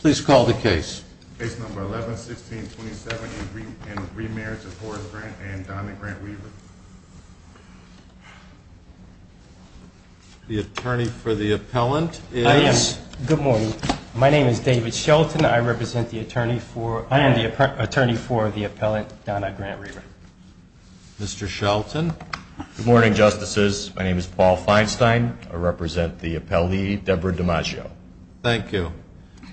Please call the case. Case number 11, 1627 and remarriage of Horace Grant and Donna Grant Weaver. The attorney for the appellant is. I am. Good morning. My name is David Shelton. I represent the attorney for. I am the attorney for the appellant Donna Grant Weaver. Mr. Shelton. Good morning, justices. My name is Paul Feinstein. I represent the appellee Deborah DiMaggio. Thank you.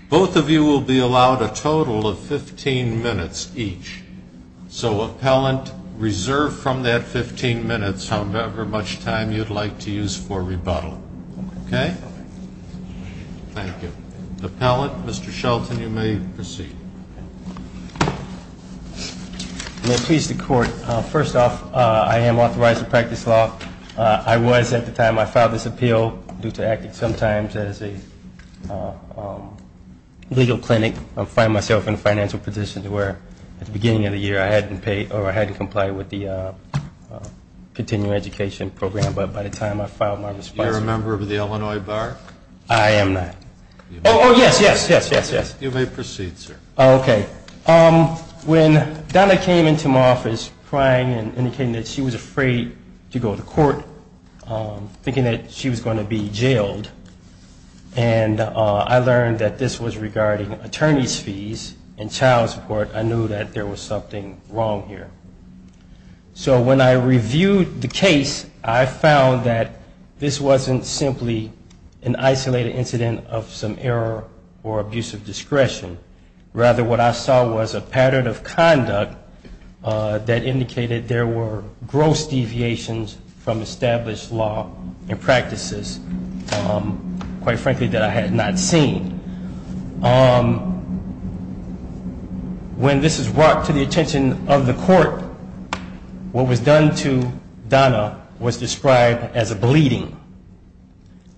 Both of you will be allowed a total of 15 minutes each. So appellant reserve from that 15 minutes however much time you'd like to use for rebuttal. Okay. Thank you. Appellant, Mr. Shelton, you may proceed. May it please the court. First off, I am authorized to practice law. I was at the time I filed this appeal due to acting sometimes as a legal clinic. I find myself in a financial position to where at the beginning of the year I hadn't paid or I hadn't complied with the continuing education program. But by the time I filed my response. You're a member of the Illinois Bar? I am not. Oh, yes, yes, yes, yes, yes. You may proceed, sir. Okay. When Donna came into my office crying and indicating that she was afraid to go to court, thinking that she was going to be jailed. And I learned that this was regarding attorneys fees and child support. I knew that there was something wrong here. So when I reviewed the case, I found that this wasn't simply an isolated incident of some error or abuse of discretion. Rather, what I saw was a pattern of conduct that indicated there were gross deviations from established law and practices. Quite frankly, that I had not seen. When this is brought to the attention of the court, what was done to Donna was described as a bleeding.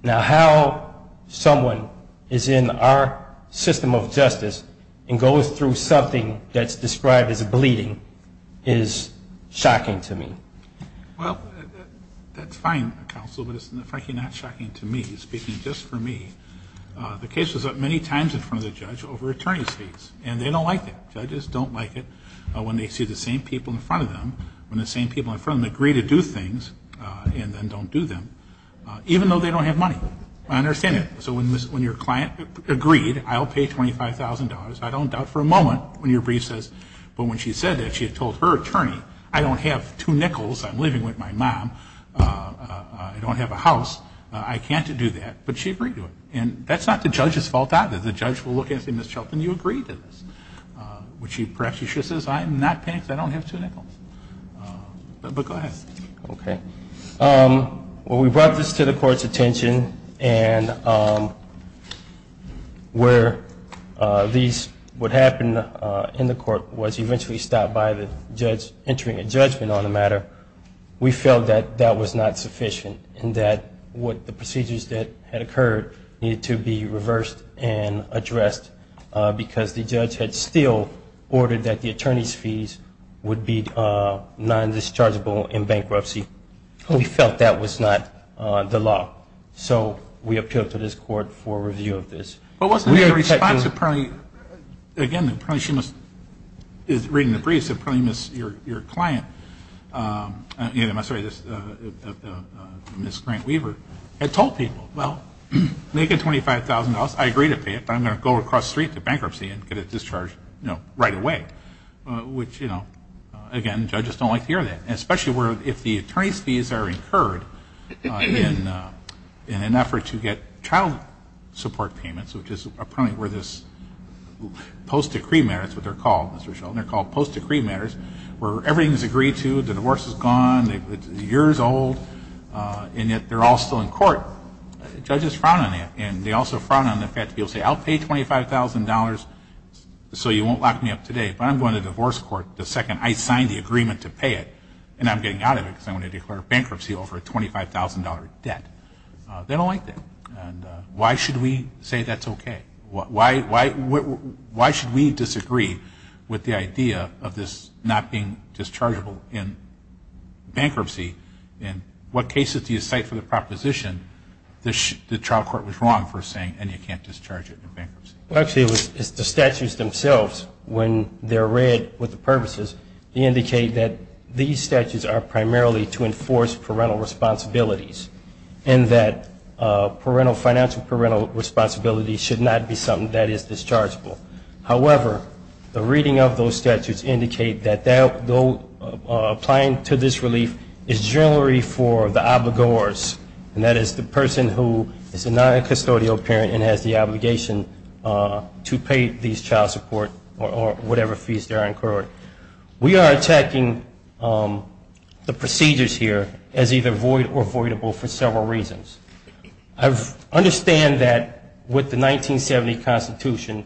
Now, how someone is in our system of justice and goes through something that's described as a bleeding is shocking to me. Well, that's fine, counsel, but it's frankly not shocking to me. Speaking just for me. The case was up many times in front of the judge over attorney fees. And they don't like that. Judges don't like it when they see the same people in front of them. When the same people in front of them agree to do things and then don't do them. Even though they don't have money. I understand that. So when your client agreed, I'll pay $25,000, I don't doubt for a moment when your brief says. But when she said that, she had told her attorney, I don't have two nickels, I'm living with my mom, I don't have a house, I can't do that. But she agreed to it. And that's not the judge's fault either. The judge will look at it and say, Ms. Shelton, you agreed to this. Which perhaps she should have said, I'm not paying because I don't have two nickels. But go ahead. Okay. Well, we brought this to the court's attention. And where these would happen in the court was eventually stopped by the judge entering a judgment on the matter. We felt that that was not sufficient. And that what the procedures that had occurred needed to be reversed and addressed. Because the judge had still ordered that the attorney's fees would be non-dischargeable in bankruptcy. We felt that was not the law. So we appealed to this court for review of this. But wasn't there a response that probably, again, probably she must, is reading the briefs, that probably your client, I'm sorry, Ms. Grant-Weaver, had told people, well, make it $25,000. I agree to pay it, but I'm going to go across the street to bankruptcy and get it discharged right away. Which, you know, again, judges don't like to hear that. Especially if the attorney's fees are incurred in an effort to get child support payments, which is a point where this post-decree matter, that's what they're called, Ms. Shelton, they're called post-decree matters where everything is agreed to, the divorce is gone, it's years old, and yet they're all still in court. Judges frown on that. And they also frown on the fact that people say, I'll pay $25,000 so you won't lock me up today, but I'm going to divorce court the second I sign the agreement to pay it, and I'm getting out of it because I'm going to declare bankruptcy over a $25,000 debt. They don't like that. And why should we say that's okay? Why should we disagree with the idea of this not being dischargeable in bankruptcy? In what cases do you cite for the proposition the trial court was wrong for saying, and you can't discharge it in bankruptcy? Well, actually, it's the statutes themselves. When they're read with the purposes, they indicate that these statutes are primarily to enforce parental responsibilities and that financial parental responsibility should not be something that is dischargeable. However, the reading of those statutes indicate that applying to this relief is generally for the obligors, and that is the person who is a non-custodial parent and has the obligation to pay these child support or whatever fees they're incurring. We are attacking the procedures here as either void or voidable for several reasons. I understand that with the 1970 Constitution,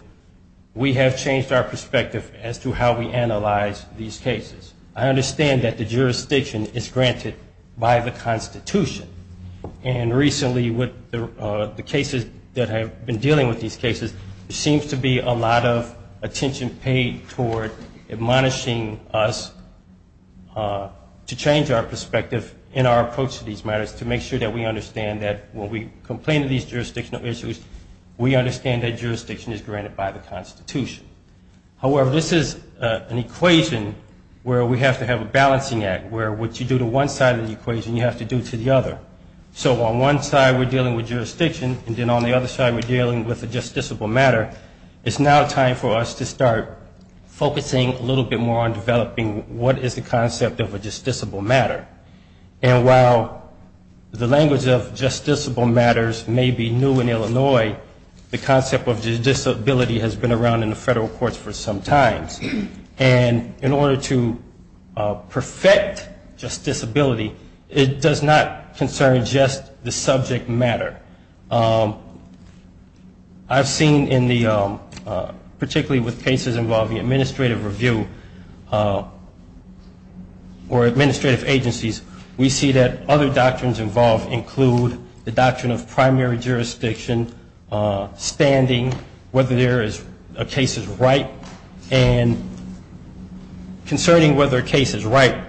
we have changed our perspective as to how we analyze these cases. I understand that the jurisdiction is granted by the Constitution, and recently with the cases that have been dealing with these cases, there seems to be a lot of attention paid toward admonishing us to change our perspective in our approach to these matters to make sure that we understand that when we complain of these jurisdictional issues, we understand that jurisdiction is granted by the Constitution. However, this is an equation where we have to have a balancing act, where what you do to one side of the equation, you have to do to the other. So on one side, we're dealing with jurisdiction, and then on the other side, we're dealing with a justiciable matter. It's now time for us to start focusing a little bit more on developing what is the concept of a justiciable matter. And while the language of justiciable matters may be new in Illinois, the concept of justiciability has been around in the federal courts for some time. And in order to perfect justiciability, it does not concern just the subject matter. I've seen in the, particularly with cases involving administrative review or administrative agencies, we see that other doctrines involved include the doctrine of primary jurisdiction, standing, whether there is a case is right, and concerning whether a case is right,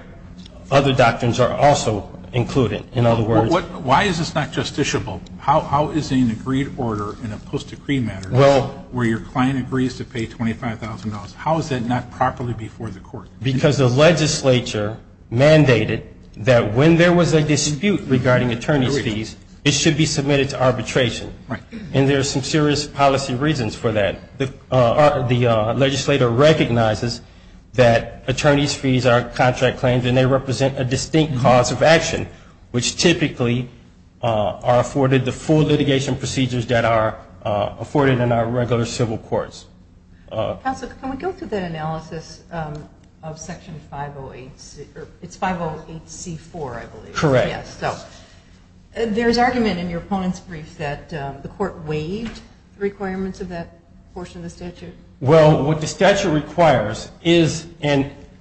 other doctrines are also included. Why is this not justiciable? How is an agreed order in a post-decree matter where your client agrees to pay $25,000, how is that not properly before the court? Because the legislature mandated that when there was a dispute regarding attorney's fees, it should be submitted to arbitration. And there are some serious policy reasons for that. The legislature recognizes that attorney's fees are contract claims, and they represent a distinct cause of action, which typically are afforded the full litigation procedures that are afforded in our regular civil courts. Counsel, can we go through that analysis of Section 508, it's 508C4, I believe. Correct. There's argument in your opponent's brief that the court waived the requirements of that portion of the statute. Well, what the statute requires is,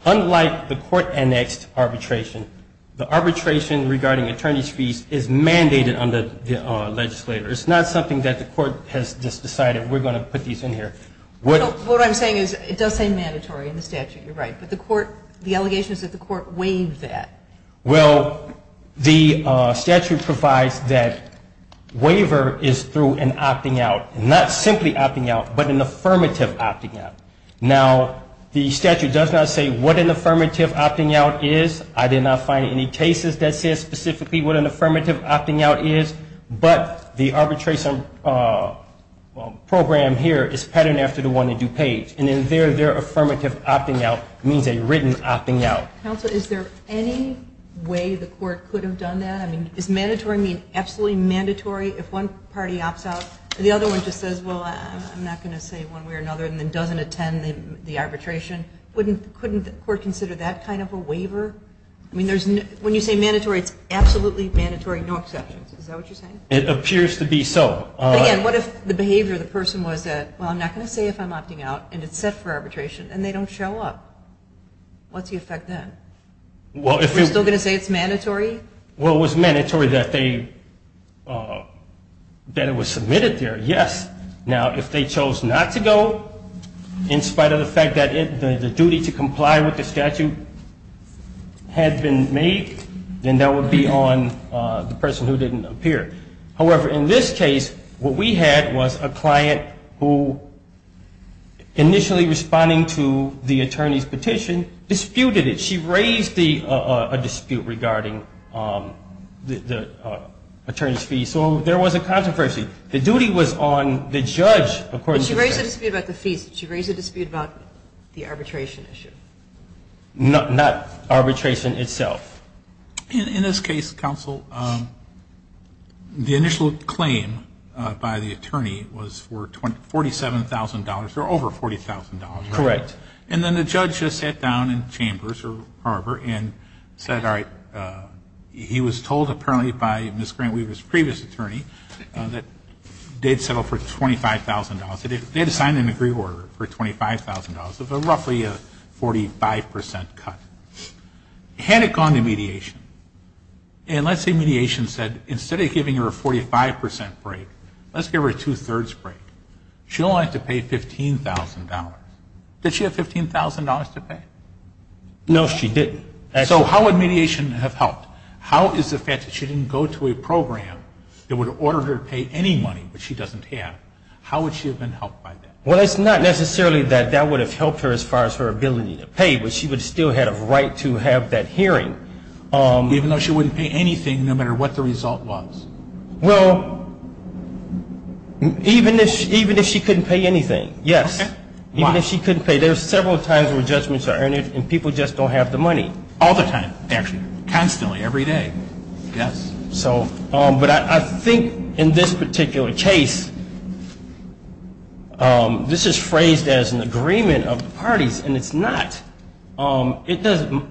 unlike the court-annexed arbitration, the arbitration regarding attorney's fees is mandated under the legislature. It's not something that the court has just decided we're going to put these in here. What I'm saying is it does say mandatory in the statute, you're right, but the court, the allegation is that the court waived that. Well, the statute provides that waiver is through an opting out, not simply opting out, but an affirmative opting out. Now, the statute does not say what an affirmative opting out is. I did not find any cases that said specifically what an affirmative opting out is, but the arbitration program here is patterned after the one in DuPage, and in there, their affirmative opting out means a written opting out. Counsel, is there any way the court could have done that? I mean, is mandatory mean absolutely mandatory if one party opts out and the other one just says, well, I'm not going to say one way or another, and then doesn't attend the arbitration? Couldn't the court consider that kind of a waiver? I mean, when you say mandatory, it's absolutely mandatory, no exceptions. Is that what you're saying? It appears to be so. But again, what if the behavior of the person was that, well, I'm not going to say if I'm opting out, and it's set for arbitration, and they don't show up? What's the effect then? Well, if it's still going to say it's mandatory? Well, it was mandatory that it was submitted there, yes. Now, if they chose not to go, in spite of the fact that the duty to comply with the statute had been made, then that would be on the person who didn't appear. However, in this case, what we had was a client who, initially responding to the attorney's petition, disputed it. She raised a dispute regarding the attorney's fee, so there was a controversy. The duty was on the judge. But she raised a dispute about the fees. She raised a dispute about the arbitration issue. Not arbitration itself. In this case, counsel, the initial claim by the attorney was for $47,000, or over $40,000. Correct. And then the judge just sat down in Chambers or Harvard and said, all right, he was told apparently by Ms. Grant Weaver's previous attorney that they'd settle for $25,000. They had to sign an agreement for $25,000 of roughly a 45% cut. Had it gone to mediation, and let's say mediation said, instead of giving her a 45% break, let's give her a two-thirds break. She'd only have to pay $15,000. Did she have $15,000 to pay? No, she didn't. So how would mediation have helped? How is the fact that she didn't go to a program that would order her to pay any money, but she doesn't have, how would she have been helped by that? Well, it's not necessarily that that would have helped her as far as her ability to pay, but she would have still had a right to have that hearing. Even though she wouldn't pay anything, no matter what the result was? Well, even if she couldn't pay anything, yes. Even if she couldn't pay. There are several times where judgments are earned, and people just don't have the money. All the time, actually. Constantly, every day. But I think in this particular case, this is phrased as an agreement of the parties, and it's not. The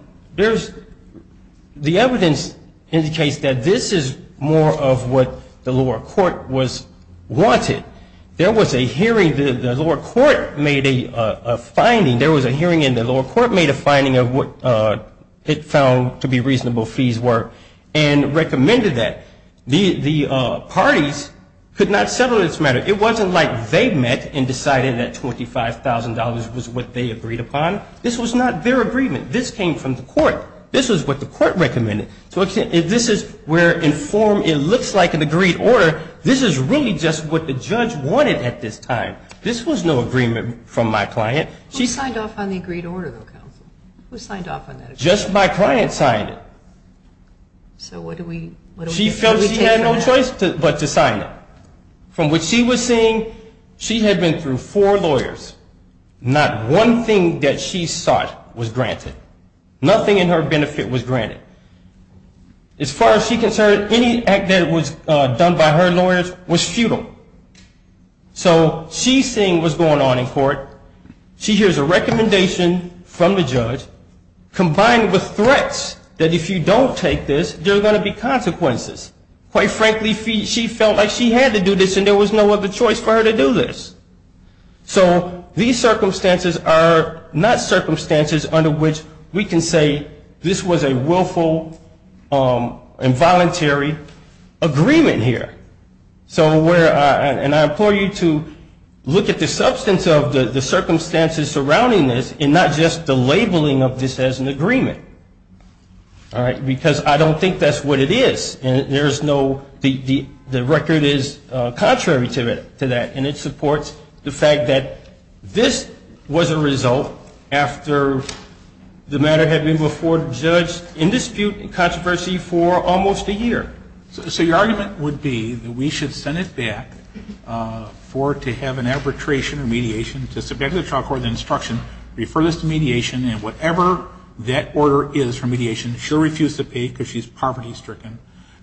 evidence indicates that this is more of what the lower court wanted. There was a hearing. The lower court made a finding. There was a hearing, and the lower court made a finding of what it found to be reasonable fees were, and recommended that. The parties could not settle this matter. It wasn't like they met and decided that $25,000 was what they agreed upon. This was not their agreement. This came from the court. This is what the court recommended. So this is where in form it looks like an agreed order. This is really just what the judge wanted at this time. This was no agreement from my client. Who signed off on the agreed order, though, counsel? Who signed off on that agreement? Just my client signed it. So what do we take from that? She felt she had no choice but to sign it. From what she was seeing, she had been through four lawyers. Not one thing that she sought was granted. Nothing in her benefit was granted. As far as she's concerned, any act that was done by her lawyers was futile. So she's seeing what's going on in court. She hears a recommendation from the judge, combined with threats that if you don't take this, there are going to be consequences. Quite frankly, she felt like she had to do this, and there was no other choice for her to do this. So these circumstances are not circumstances under which we can say this was a willful, involuntary agreement here. And I implore you to look at the substance of the circumstances surrounding this, and not just the labeling of this as an agreement. Because I don't think that's what it is. And there's no, the record is contrary to that, and it supports the fact that this was a result after the matter had been before the judge in dispute and controversy for almost a year. So your argument would be that we should send it back for her to have an arbitration or mediation, to submit to the child court the instruction, refer this to mediation, and whatever that order is for mediation, she'll refuse to pay because she's poverty-stricken.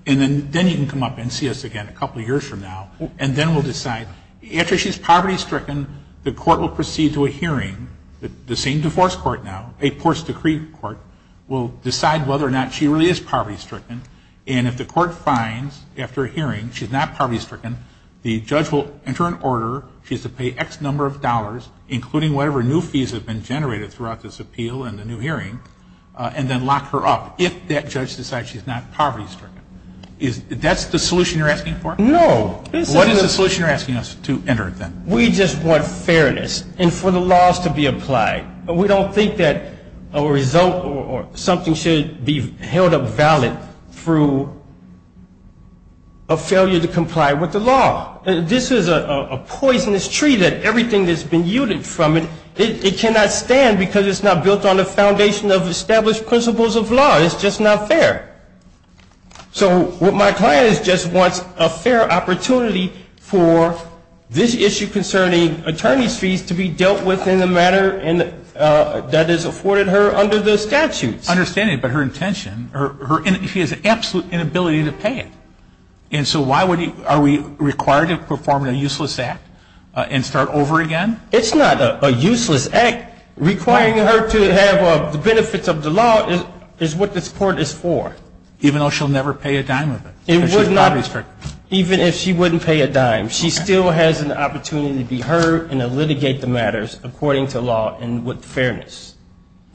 And then you can come up and see us again a couple years from now, and then we'll decide. After she's poverty-stricken, the court will proceed to a hearing, the same divorce court now, a post-decree court, will decide whether or not she really is poverty-stricken. And if the court finds after a hearing she's not poverty-stricken, the judge will enter an order, she has to pay X number of dollars, including whatever new fees have been generated throughout this appeal and the new hearing, and then lock her up, if that judge decides she's not poverty-stricken. That's the solution you're asking for? No. What is the solution you're asking us to enter, then? We just want fairness, and for the laws to be applied. We don't think that a result or something should be held up valid through a failure to comply with the law. This is a poisonous tree that everything that's been yielded from it, it cannot stand because it's not built on the foundation of established principles of law. It's just not fair. So what my client is just wants a fair opportunity for this issue concerning attorney's fees to be dealt with in a manner that is afforded her under the statutes. I understand that, but her intention, her, she has absolute inability to pay it. And so why would, are we required to perform a useless act and start over again? It's not a useless act. Requiring her to have the benefits of the law is what this court is for. Even though she'll never pay a dime of it? Even if she wouldn't pay a dime, she still has an opportunity to be heard and to litigate the matters according to law and with fairness.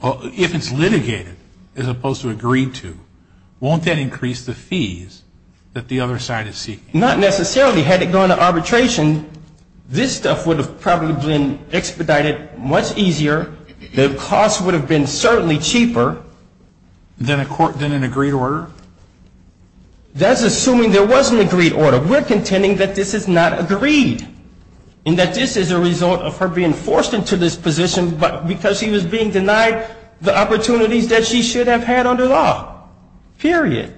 Well, if it's litigated as opposed to agreed to, won't that increase the fees that the other side is seeking? Not necessarily. Had it gone to arbitration, this stuff would have probably been expedited much easier. The cost would have been certainly cheaper. Than an agreed order? That's assuming there was an agreed order. We're contending that this is not agreed and that this is a result of her being forced into this position because she was being denied the opportunities that she should have had under law. Period.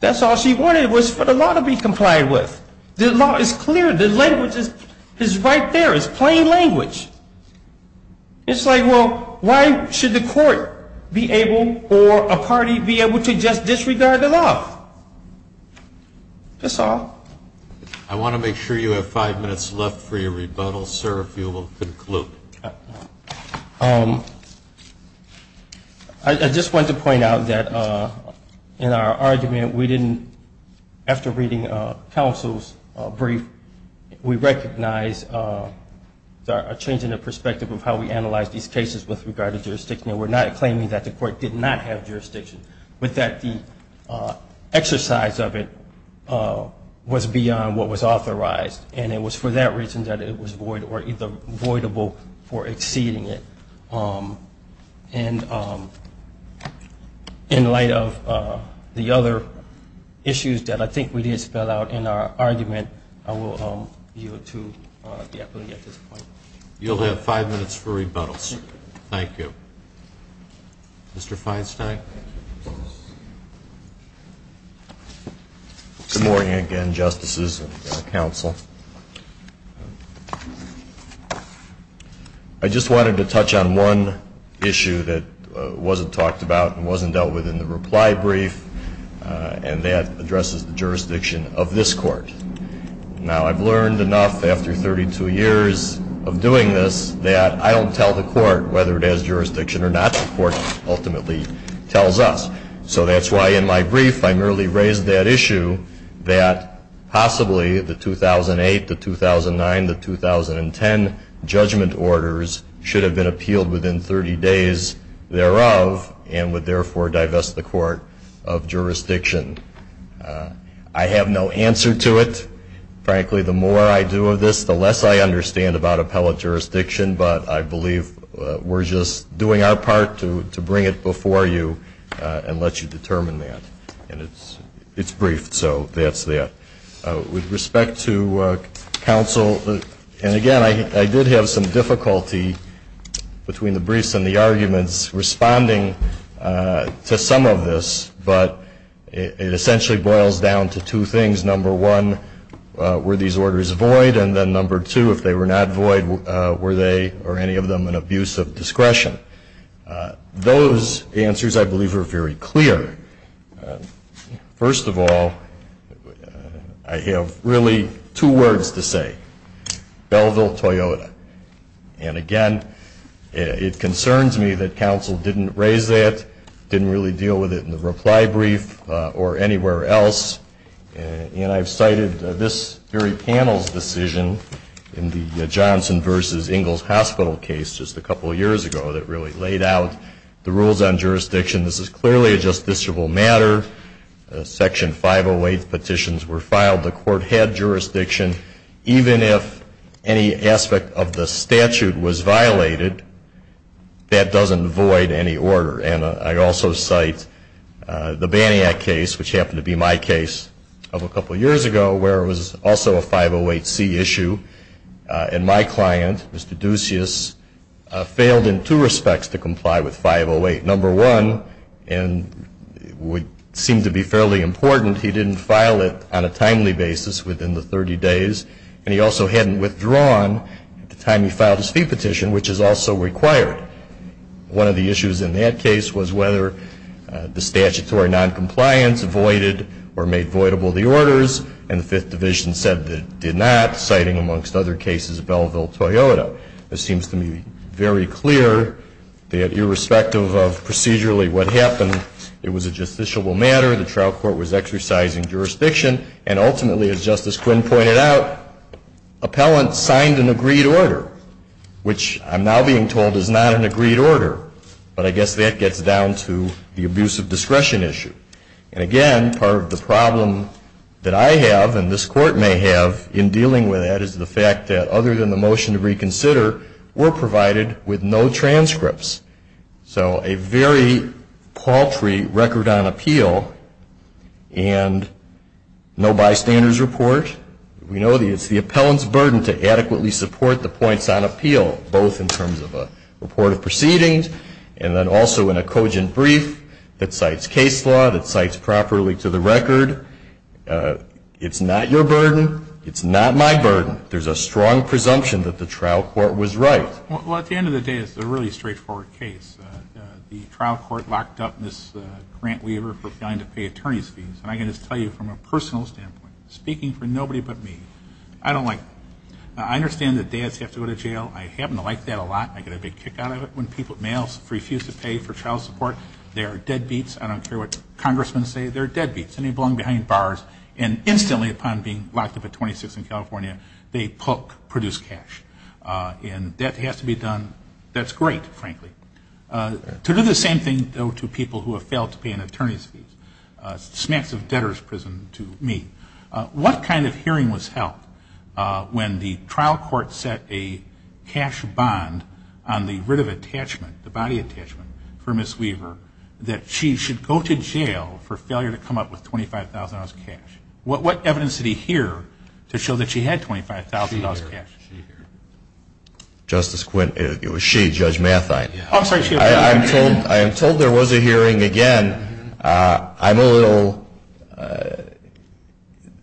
That's all she wanted was for the law to be complied with. The law is clear. The language is right there. It's plain language. It's like, well, why should the court be able or a party be able to just disregard the law? That's all. I want to make sure you have five minutes left for your rebuttal, sir, if you will conclude. I just want to point out that in our argument we didn't, after reading counsel's brief, we recognize a change in the perspective of how we analyze these cases with regard to jurisdiction. We're not claiming that the court did not have jurisdiction, but that the exercise of it was beyond what was authorized. And it was for that reason that it was void or either voidable for exceeding it. And in light of the other issues that I think we did spell out in our argument, I will yield to the appellee at this point. You'll have five minutes for rebuttal, sir. Thank you. Mr. Feinstein. Good morning again, Justices and counsel. I just wanted to touch on one issue that wasn't talked about and wasn't dealt with in the reply brief, and that addresses the jurisdiction of this Court. Now, I've learned enough after 32 years of doing this that I don't tell the Court whether it has jurisdiction or not. The Court ultimately tells us. So that's why in my brief I merely raised that issue that possibly the 2008, the 2009, the 2010 judgment orders should have been appealed within 30 days thereof and would therefore divest the Court of Jurisdiction. I have no answer to it. Frankly, the more I do of this, the less I understand about appellate jurisdiction, but I believe we're just doing our part to bring it before you and let you determine that. And it's briefed, so that's that. With respect to counsel, and again, I did have some difficulty between the briefs and the arguments responding to some of this, but it essentially boils down to two things. Number one, were these orders void? And then number two, if they were not void, were they or any of them an abuse of discretion? Those answers I believe are very clear. First of all, I have really two words to say, Belleville, Toyota. And again, it concerns me that counsel didn't raise that, didn't really deal with it in the reply brief or anywhere else. And I've cited this very panel's decision in the Johnson v. Ingalls Hospital case just a couple of years ago that really laid out the rules on jurisdiction. This is clearly a justiciable matter. Section 508 petitions were filed. The Court had jurisdiction. Even if any aspect of the case, which happened to be my case of a couple of years ago, where it was also a 508C issue, and my client, Mr. Ducey, failed in two respects to comply with 508. Number one, and it would seem to be fairly important, he didn't file it on a timely basis within the 30 days, and he also hadn't withdrawn at the time he filed his fee petition, which is also required. One of the issues in that case was whether the statutory noncompliance voided or made voidable the orders, and the Fifth Division said it did not, citing, amongst other cases, Belleville, Toyota. It seems to me very clear that irrespective of procedurally what happened, it was a justiciable matter. The trial court was exercising jurisdiction. And ultimately, as Justice Quinn pointed out, appellants signed an agreed order, which I'm now being told is not an agreed order. But I guess that gets down to the abuse of discretion issue. And again, part of the problem that I have, and this Court may have, in dealing with that is the fact that other than the motion to reconsider, were provided with no transcripts. So a very paltry record on appeal, and no bystanders report. We know that it's the appellant's burden to adequately support the points on appeal, both in terms of a report of proceedings, and then also in a cogent brief that cites case law, that cites properly to the record. It's not your burden. It's not my burden. There's a strong presumption that the trial court was right. Well, at the end of the day, it's a really straightforward case. The trial court locked up Ms. Grant-Weaver for failing to pay attorney's fees. And I can just tell you from a personal standpoint, speaking for nobody but me, I don't like that. I understand that dads have to go to jail. I happen to like that a lot. I get a big kick out of it when males refuse to pay for child support. They are dead beats. I don't care what congressmen say. They're dead beats. And they belong behind the bar, frankly. To do the same thing, though, to people who have failed to pay an attorney's fees, smacks of debtor's prison to me. What kind of hearing was held when the trial court set a cash bond on the writ of attachment, the body attachment, for Ms. Weaver that she should go to jail for failure to come up with $25,000 cash? What evidence did he hear to show that she had $25,000 cash? Justice Quinn, it was she, Judge Mathine. I'm told there was a hearing again. I'm a little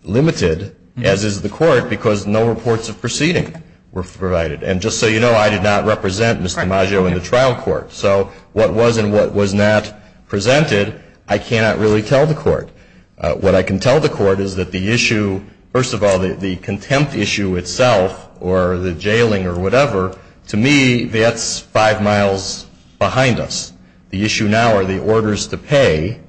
limited, as is the court, because no reports of proceeding were provided. And just so you know, I did not represent Ms. DiMaggio in the trial court. So what was and what was not presented, I cannot really tell the court. What I can tell the court is that the issue, first of all, the contempt issue itself, or the jailing or whatever, to me, that's five miles behind us. The issue now are the orders to pay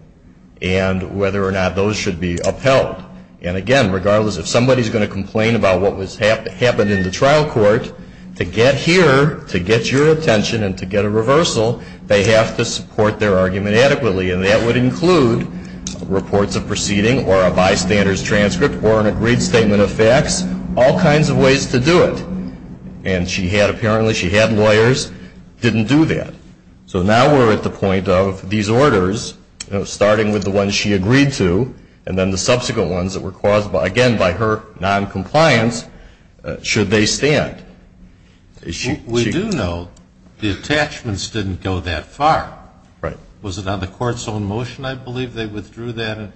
and whether or not those should be upheld. And again, regardless, if somebody's going to complain about what happened in the trial court, to get here, to get your attention and to get a reversal, they have to support their argument adequately. And that would include reports of include reports of misconduct. And that would include reports of misconduct. And there are all kinds of ways to do it. And she had, apparently, she had lawyers, didn't do that. So now we're at the point of these orders, starting with the ones she agreed to, and then the subsequent ones that were caused, again, by her noncompliance, should they stand. We do know the attachments didn't go that far. Right. Was it on the court's own motion, I believe, they withdrew that and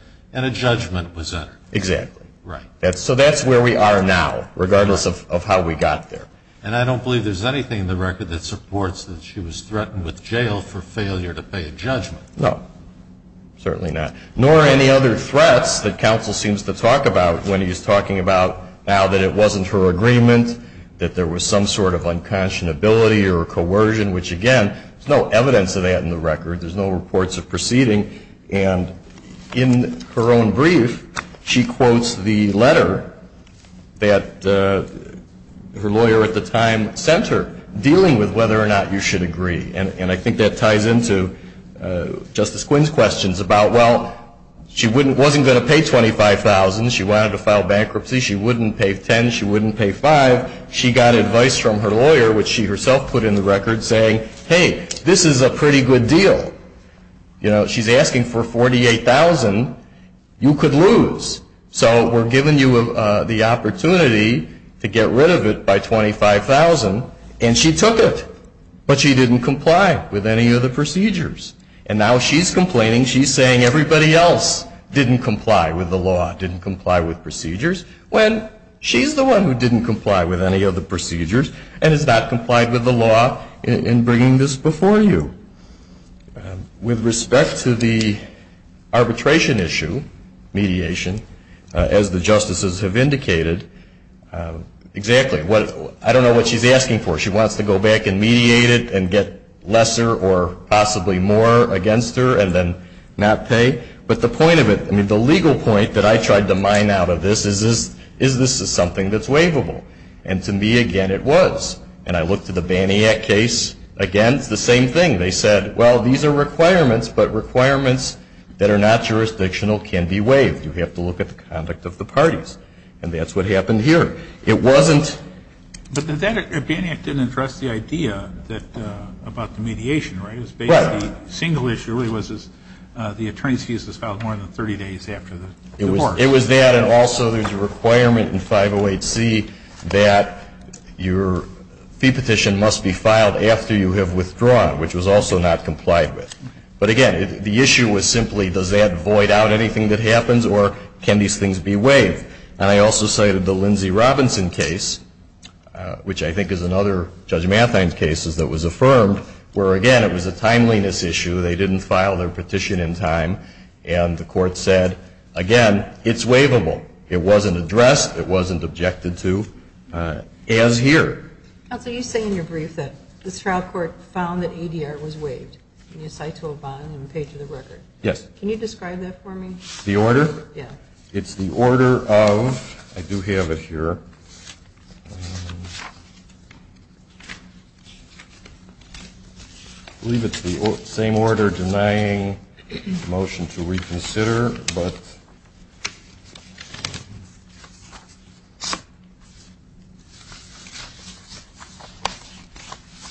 a judgment was entered. Exactly. Right. So that's where we are now, regardless of how we got there. And I don't believe there's anything in the record that supports that she was threatened with jail for failure to pay a judgment. No. Certainly not. Nor any other threats that counsel seems to talk about when he's talking about now that it wasn't her agreement, that there was some sort of unconscionability or coercion, which, again, there's no evidence of that in the record. There's no reports of proceeding. And in her own brief, she quotes the letter that her lawyer at the time sent her, dealing with whether or not you should agree. And I think that ties into Justice Quinn's questions about, well, she wasn't going to pay $25,000. She wanted to file bankruptcy. She wouldn't pay $10,000. She wouldn't pay $5,000. She got advice from her lawyer, which she herself put in the record, saying, hey, this is a pretty good deal. You know, she's asking for $48,000. You could lose. So we're giving you the opportunity to get rid of it by $25,000. And she took it. But she didn't comply with any of the procedures. And now she's complaining. She's saying everybody else didn't comply with the law, didn't comply with procedures, when she's the one who didn't comply with any of the procedures and has not complied with the law in bringing this before you. With respect to the arbitration issue, mediation, as the justices have indicated, exactly what – I don't know what she's asking for. She wants to go back and mediate it and get lesser or possibly more against her and then not pay. But the point of it – I mean, the legal point that I tried to mine out of this is this is something that's waivable. And to me, again, it was. And I looked at the Baniak case. Again, it's the same thing. They said, well, these are requirements, but requirements that are not jurisdictional can be waived. You have to look at the conduct of the parties. And that's what happened here. It wasn't – But the Baniak didn't address the idea about the mediation, right? It was basically – Well – The single issue really was the attorney's fees was filed more than 30 days after the divorce. It was that. And also there's a requirement in 508C that your fee petition must be filed after you have withdrawn, which was also not complied with. But, again, the issue was simply does that void out anything that happens or can these things be waived? And I also cited the Lindsay Robinson case, which I think is another Judge Mathein's case that was affirmed, where, again, it was a timeliness issue. They didn't file their petition in time. And the court said, again, it's waivable. It wasn't addressed. It wasn't objected to, as here. Counsel, you say in your brief that the Stroud Court found that ADR was waived and you cite to a bond and page of the record. Yes. Can you describe that for me? The order? Yeah. It's the order of, I do have it here. I believe it's the same order denying motion to reconsider.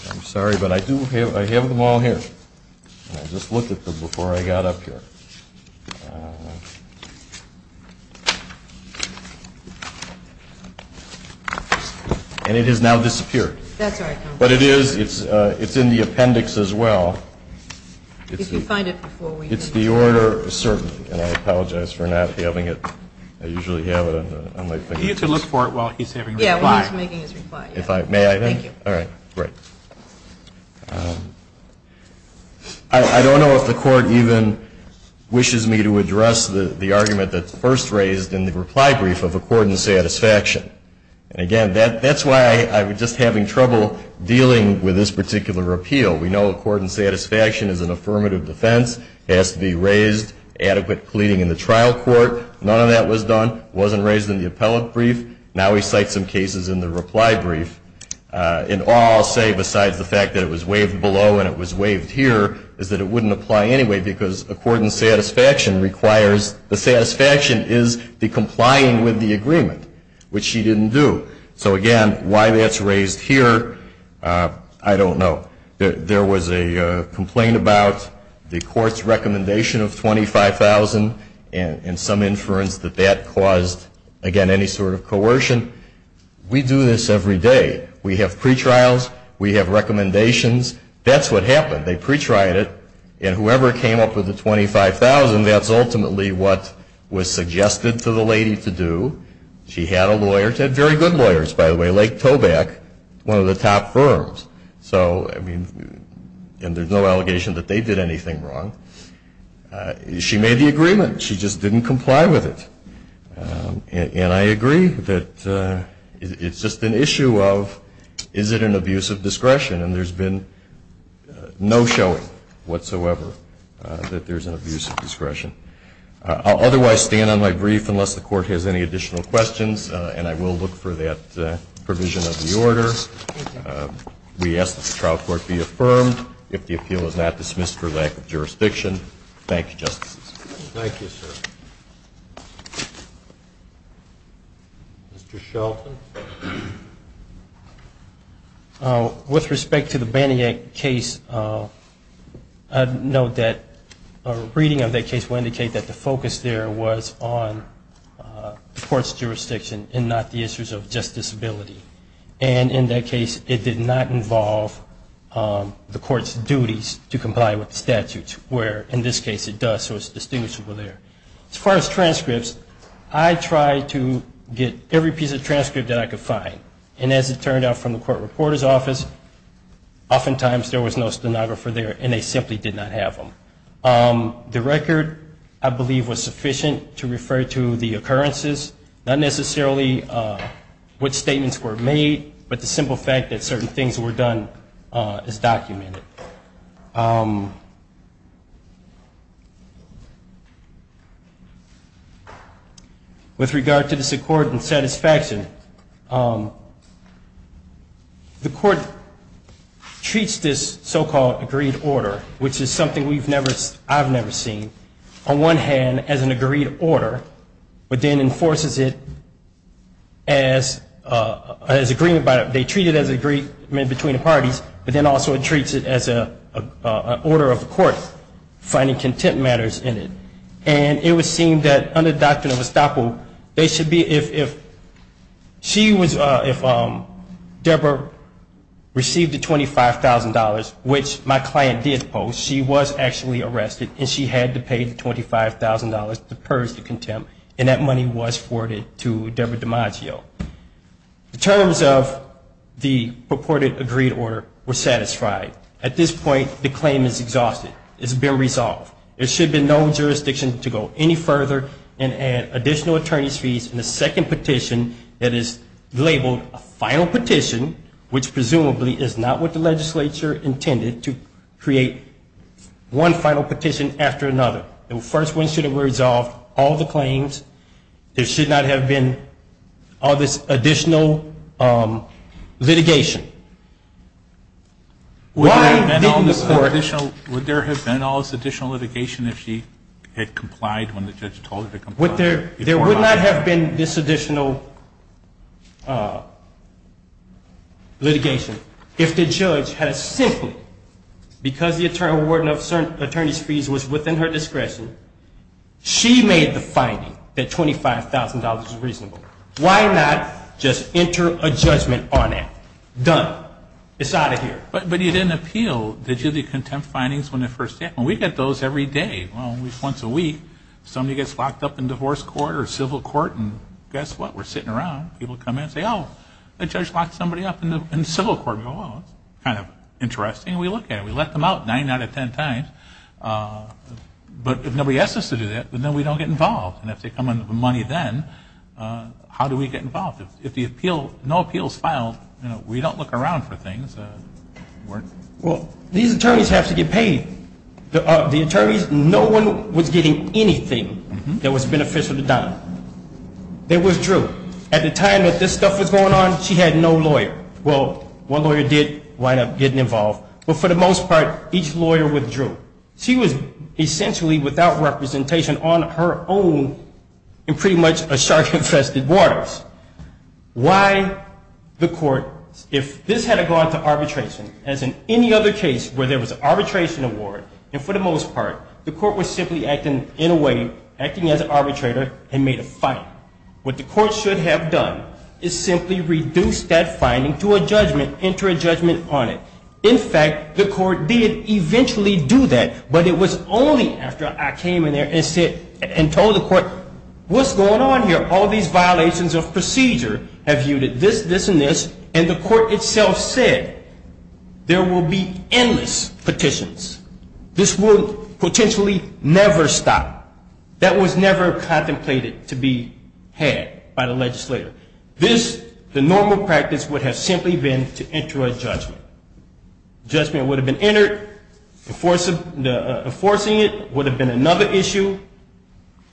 I'm sorry, but I do have them all here. I just looked at them before I got up here. And it has now disappeared. That's all right, counsel. But it is, it's in the appendix as well. If you find it before we do that. It's the order, certainly. And I apologize for not having it. I usually have it on my fingers. You can look for it while he's having his reply. Yeah, while he's making his reply. May I then? Thank you. All right. I don't know if the court even wishes me to address the argument that's first raised in the reply brief of accord and satisfaction. And, again, that's why I'm just having trouble dealing with this particular appeal. We know accord and satisfaction is an affirmative defense. It has to be raised, adequate pleading in the trial court. None of that was done. It wasn't raised in the appellate brief. Now we cite some cases in the reply brief. And all I'll say, besides the fact that it was waived below and it was waived here, is that it wouldn't apply anyway because accord and satisfaction requires, the satisfaction is the complying with the agreement, which she didn't do. So, again, why that's raised here, I don't know. There was a complaint about the court's recommendation of $25,000 and some inference that that caused, again, any sort of coercion. We do this every day. We have pretrials. We have recommendations. That's what happened. They pretried it. And whoever came up with the $25,000, that's ultimately what was suggested to the lady to do. She had a lawyer. She had very good lawyers, by the way, Lake Tobac, one of the top firms. So, I mean, and there's no allegation that they did anything wrong. She made the agreement. She just didn't comply with it. And I agree that it's just an issue of is it an abuse of discretion? And there's been no showing whatsoever that there's an abuse of discretion. I'll otherwise stand on my brief unless the Court has any additional questions, and I will look for that provision of the order. We ask that the trial court be affirmed if the appeal is not dismissed for lack of jurisdiction. Thank you, Justices. Thank you, sir. Mr. Shelton? With respect to the Banting Act case, I'd note that a reading of that case will indicate that the focus there was on the court's jurisdiction and not the issues of just disability. And in that case, it did not involve the court's duties to comply with statutes, where in this case it does. So it's distinguishable there. As far as transcripts, I tried to get every piece of transcript that I could find. And as it turned out from the court reporter's office, oftentimes there was no stenographer there, and they simply did not have them. The record, I believe, was sufficient to refer to the occurrences, not necessarily what statements were made, but the simple fact that certain things were done as documented. With regard to this accord and satisfaction, the court treats this so-called agreed order, which is something I've never seen, on one hand as an agreed order, but then enforces it as agreement by it. They treat it as agreement between the parties, but then also it treats it as an order of the court finding contempt matters in it. And it was seen that under Doctrine of Estoppel, if Deborah received the $25,000, which my client did post, she was actually arrested, and she had to pay the $25,000 to purge the contempt, and that money was forwarded to Deborah DiMaggio. The terms of the purported agreed order were satisfied. At this point, the claim is exhausted. It's been resolved. There should be no jurisdiction to go any further and add additional attorney's fees in the second petition that is labeled a final petition, which presumably is not what the legislature intended, to create one final petition after another. The first one should have resolved all the claims. There should not have been all this additional litigation. Why didn't the court? Would there have been all this additional litigation if she had complied when the judge told her to comply? There would not have been this additional litigation if the judge had simply, because the attorney's fees were within her discretion, she made the finding that $25,000 is reasonable. Why not just enter a judgment on it? Done. It's out of here. But you didn't appeal the contempt findings when they first came. We get those every day. Well, once a week, somebody gets locked up in divorce court or civil court, and guess what? We're sitting around. People come in and say, oh, the judge locked somebody up in civil court. We go, oh, that's kind of interesting. We look at it. We let them out nine out of ten times. But if nobody asks us to do that, then we don't get involved. And if they come in with the money then, how do we get involved? If no appeals filed, we don't look around for things. Well, these attorneys have to get paid. The attorneys, no one was getting anything that was beneficial to Donna. They withdrew. At the time that this stuff was going on, she had no lawyer. Well, one lawyer did wind up getting involved, but for the most part, each lawyer withdrew. She was essentially without representation on her own in pretty much a shark infested waters. Why the court, if this had gone to arbitration, as in any other case where there was an arbitration award, and for the most part, the court was simply acting in a way, acting as an arbitrator, and made a finding. What the court should have done is simply reduced that finding to a judgment, enter a judgment on it. In fact, the court did eventually do that. But it was only after I came in there and told the court, what's going on here? All these violations of procedure have viewed it this, this, and this. And the court itself said, there will be endless petitions. This will potentially never stop. That was never contemplated to be had by the legislator. This, the normal practice, would have simply been to enter a judgment. Judgment would have been entered. Enforcing it would have been another issue.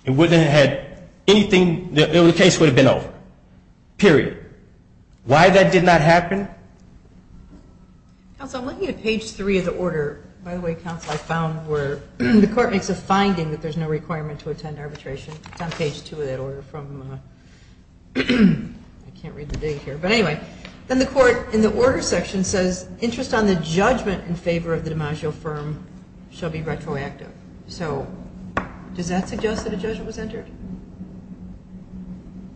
It wouldn't have had anything. The case would have been over. Period. Why that did not happen? Counsel, I'm looking at page three of the order. By the way, counsel, I found where the court makes a finding that there's no requirement to attend arbitration. It's on page two of that order from, I can't read the big here. But anyway, then the court in the order section says, interest on the judgment in favor of the DiMaggio firm shall be retroactive. So does that suggest that a judgment was entered?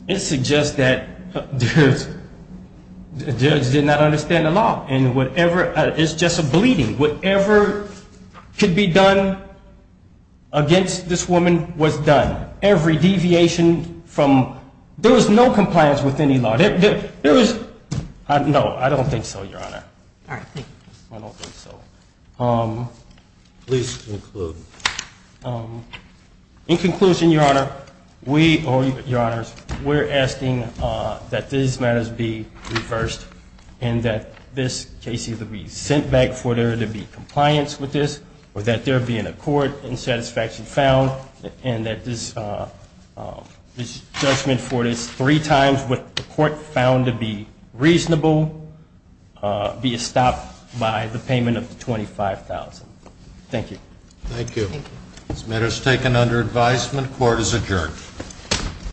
It suggests that a judge did not understand the law. And whatever, it's just a bleeding. Whatever could be done against this woman was done. Every deviation from, there was no compliance with any law. There was, no, I don't think so, Your Honor. All right, thank you. I don't think so. Please conclude. In conclusion, Your Honor, we, or Your Honors, we're asking that these matters be reversed and that this case either be sent back for there to be compliance with this or that there be an accord and satisfaction found and that this judgment for this three times with the court found to be reasonable be stopped by the payment of $25,000. Thank you. Thank you. This matter is taken under advisement. Court is adjourned.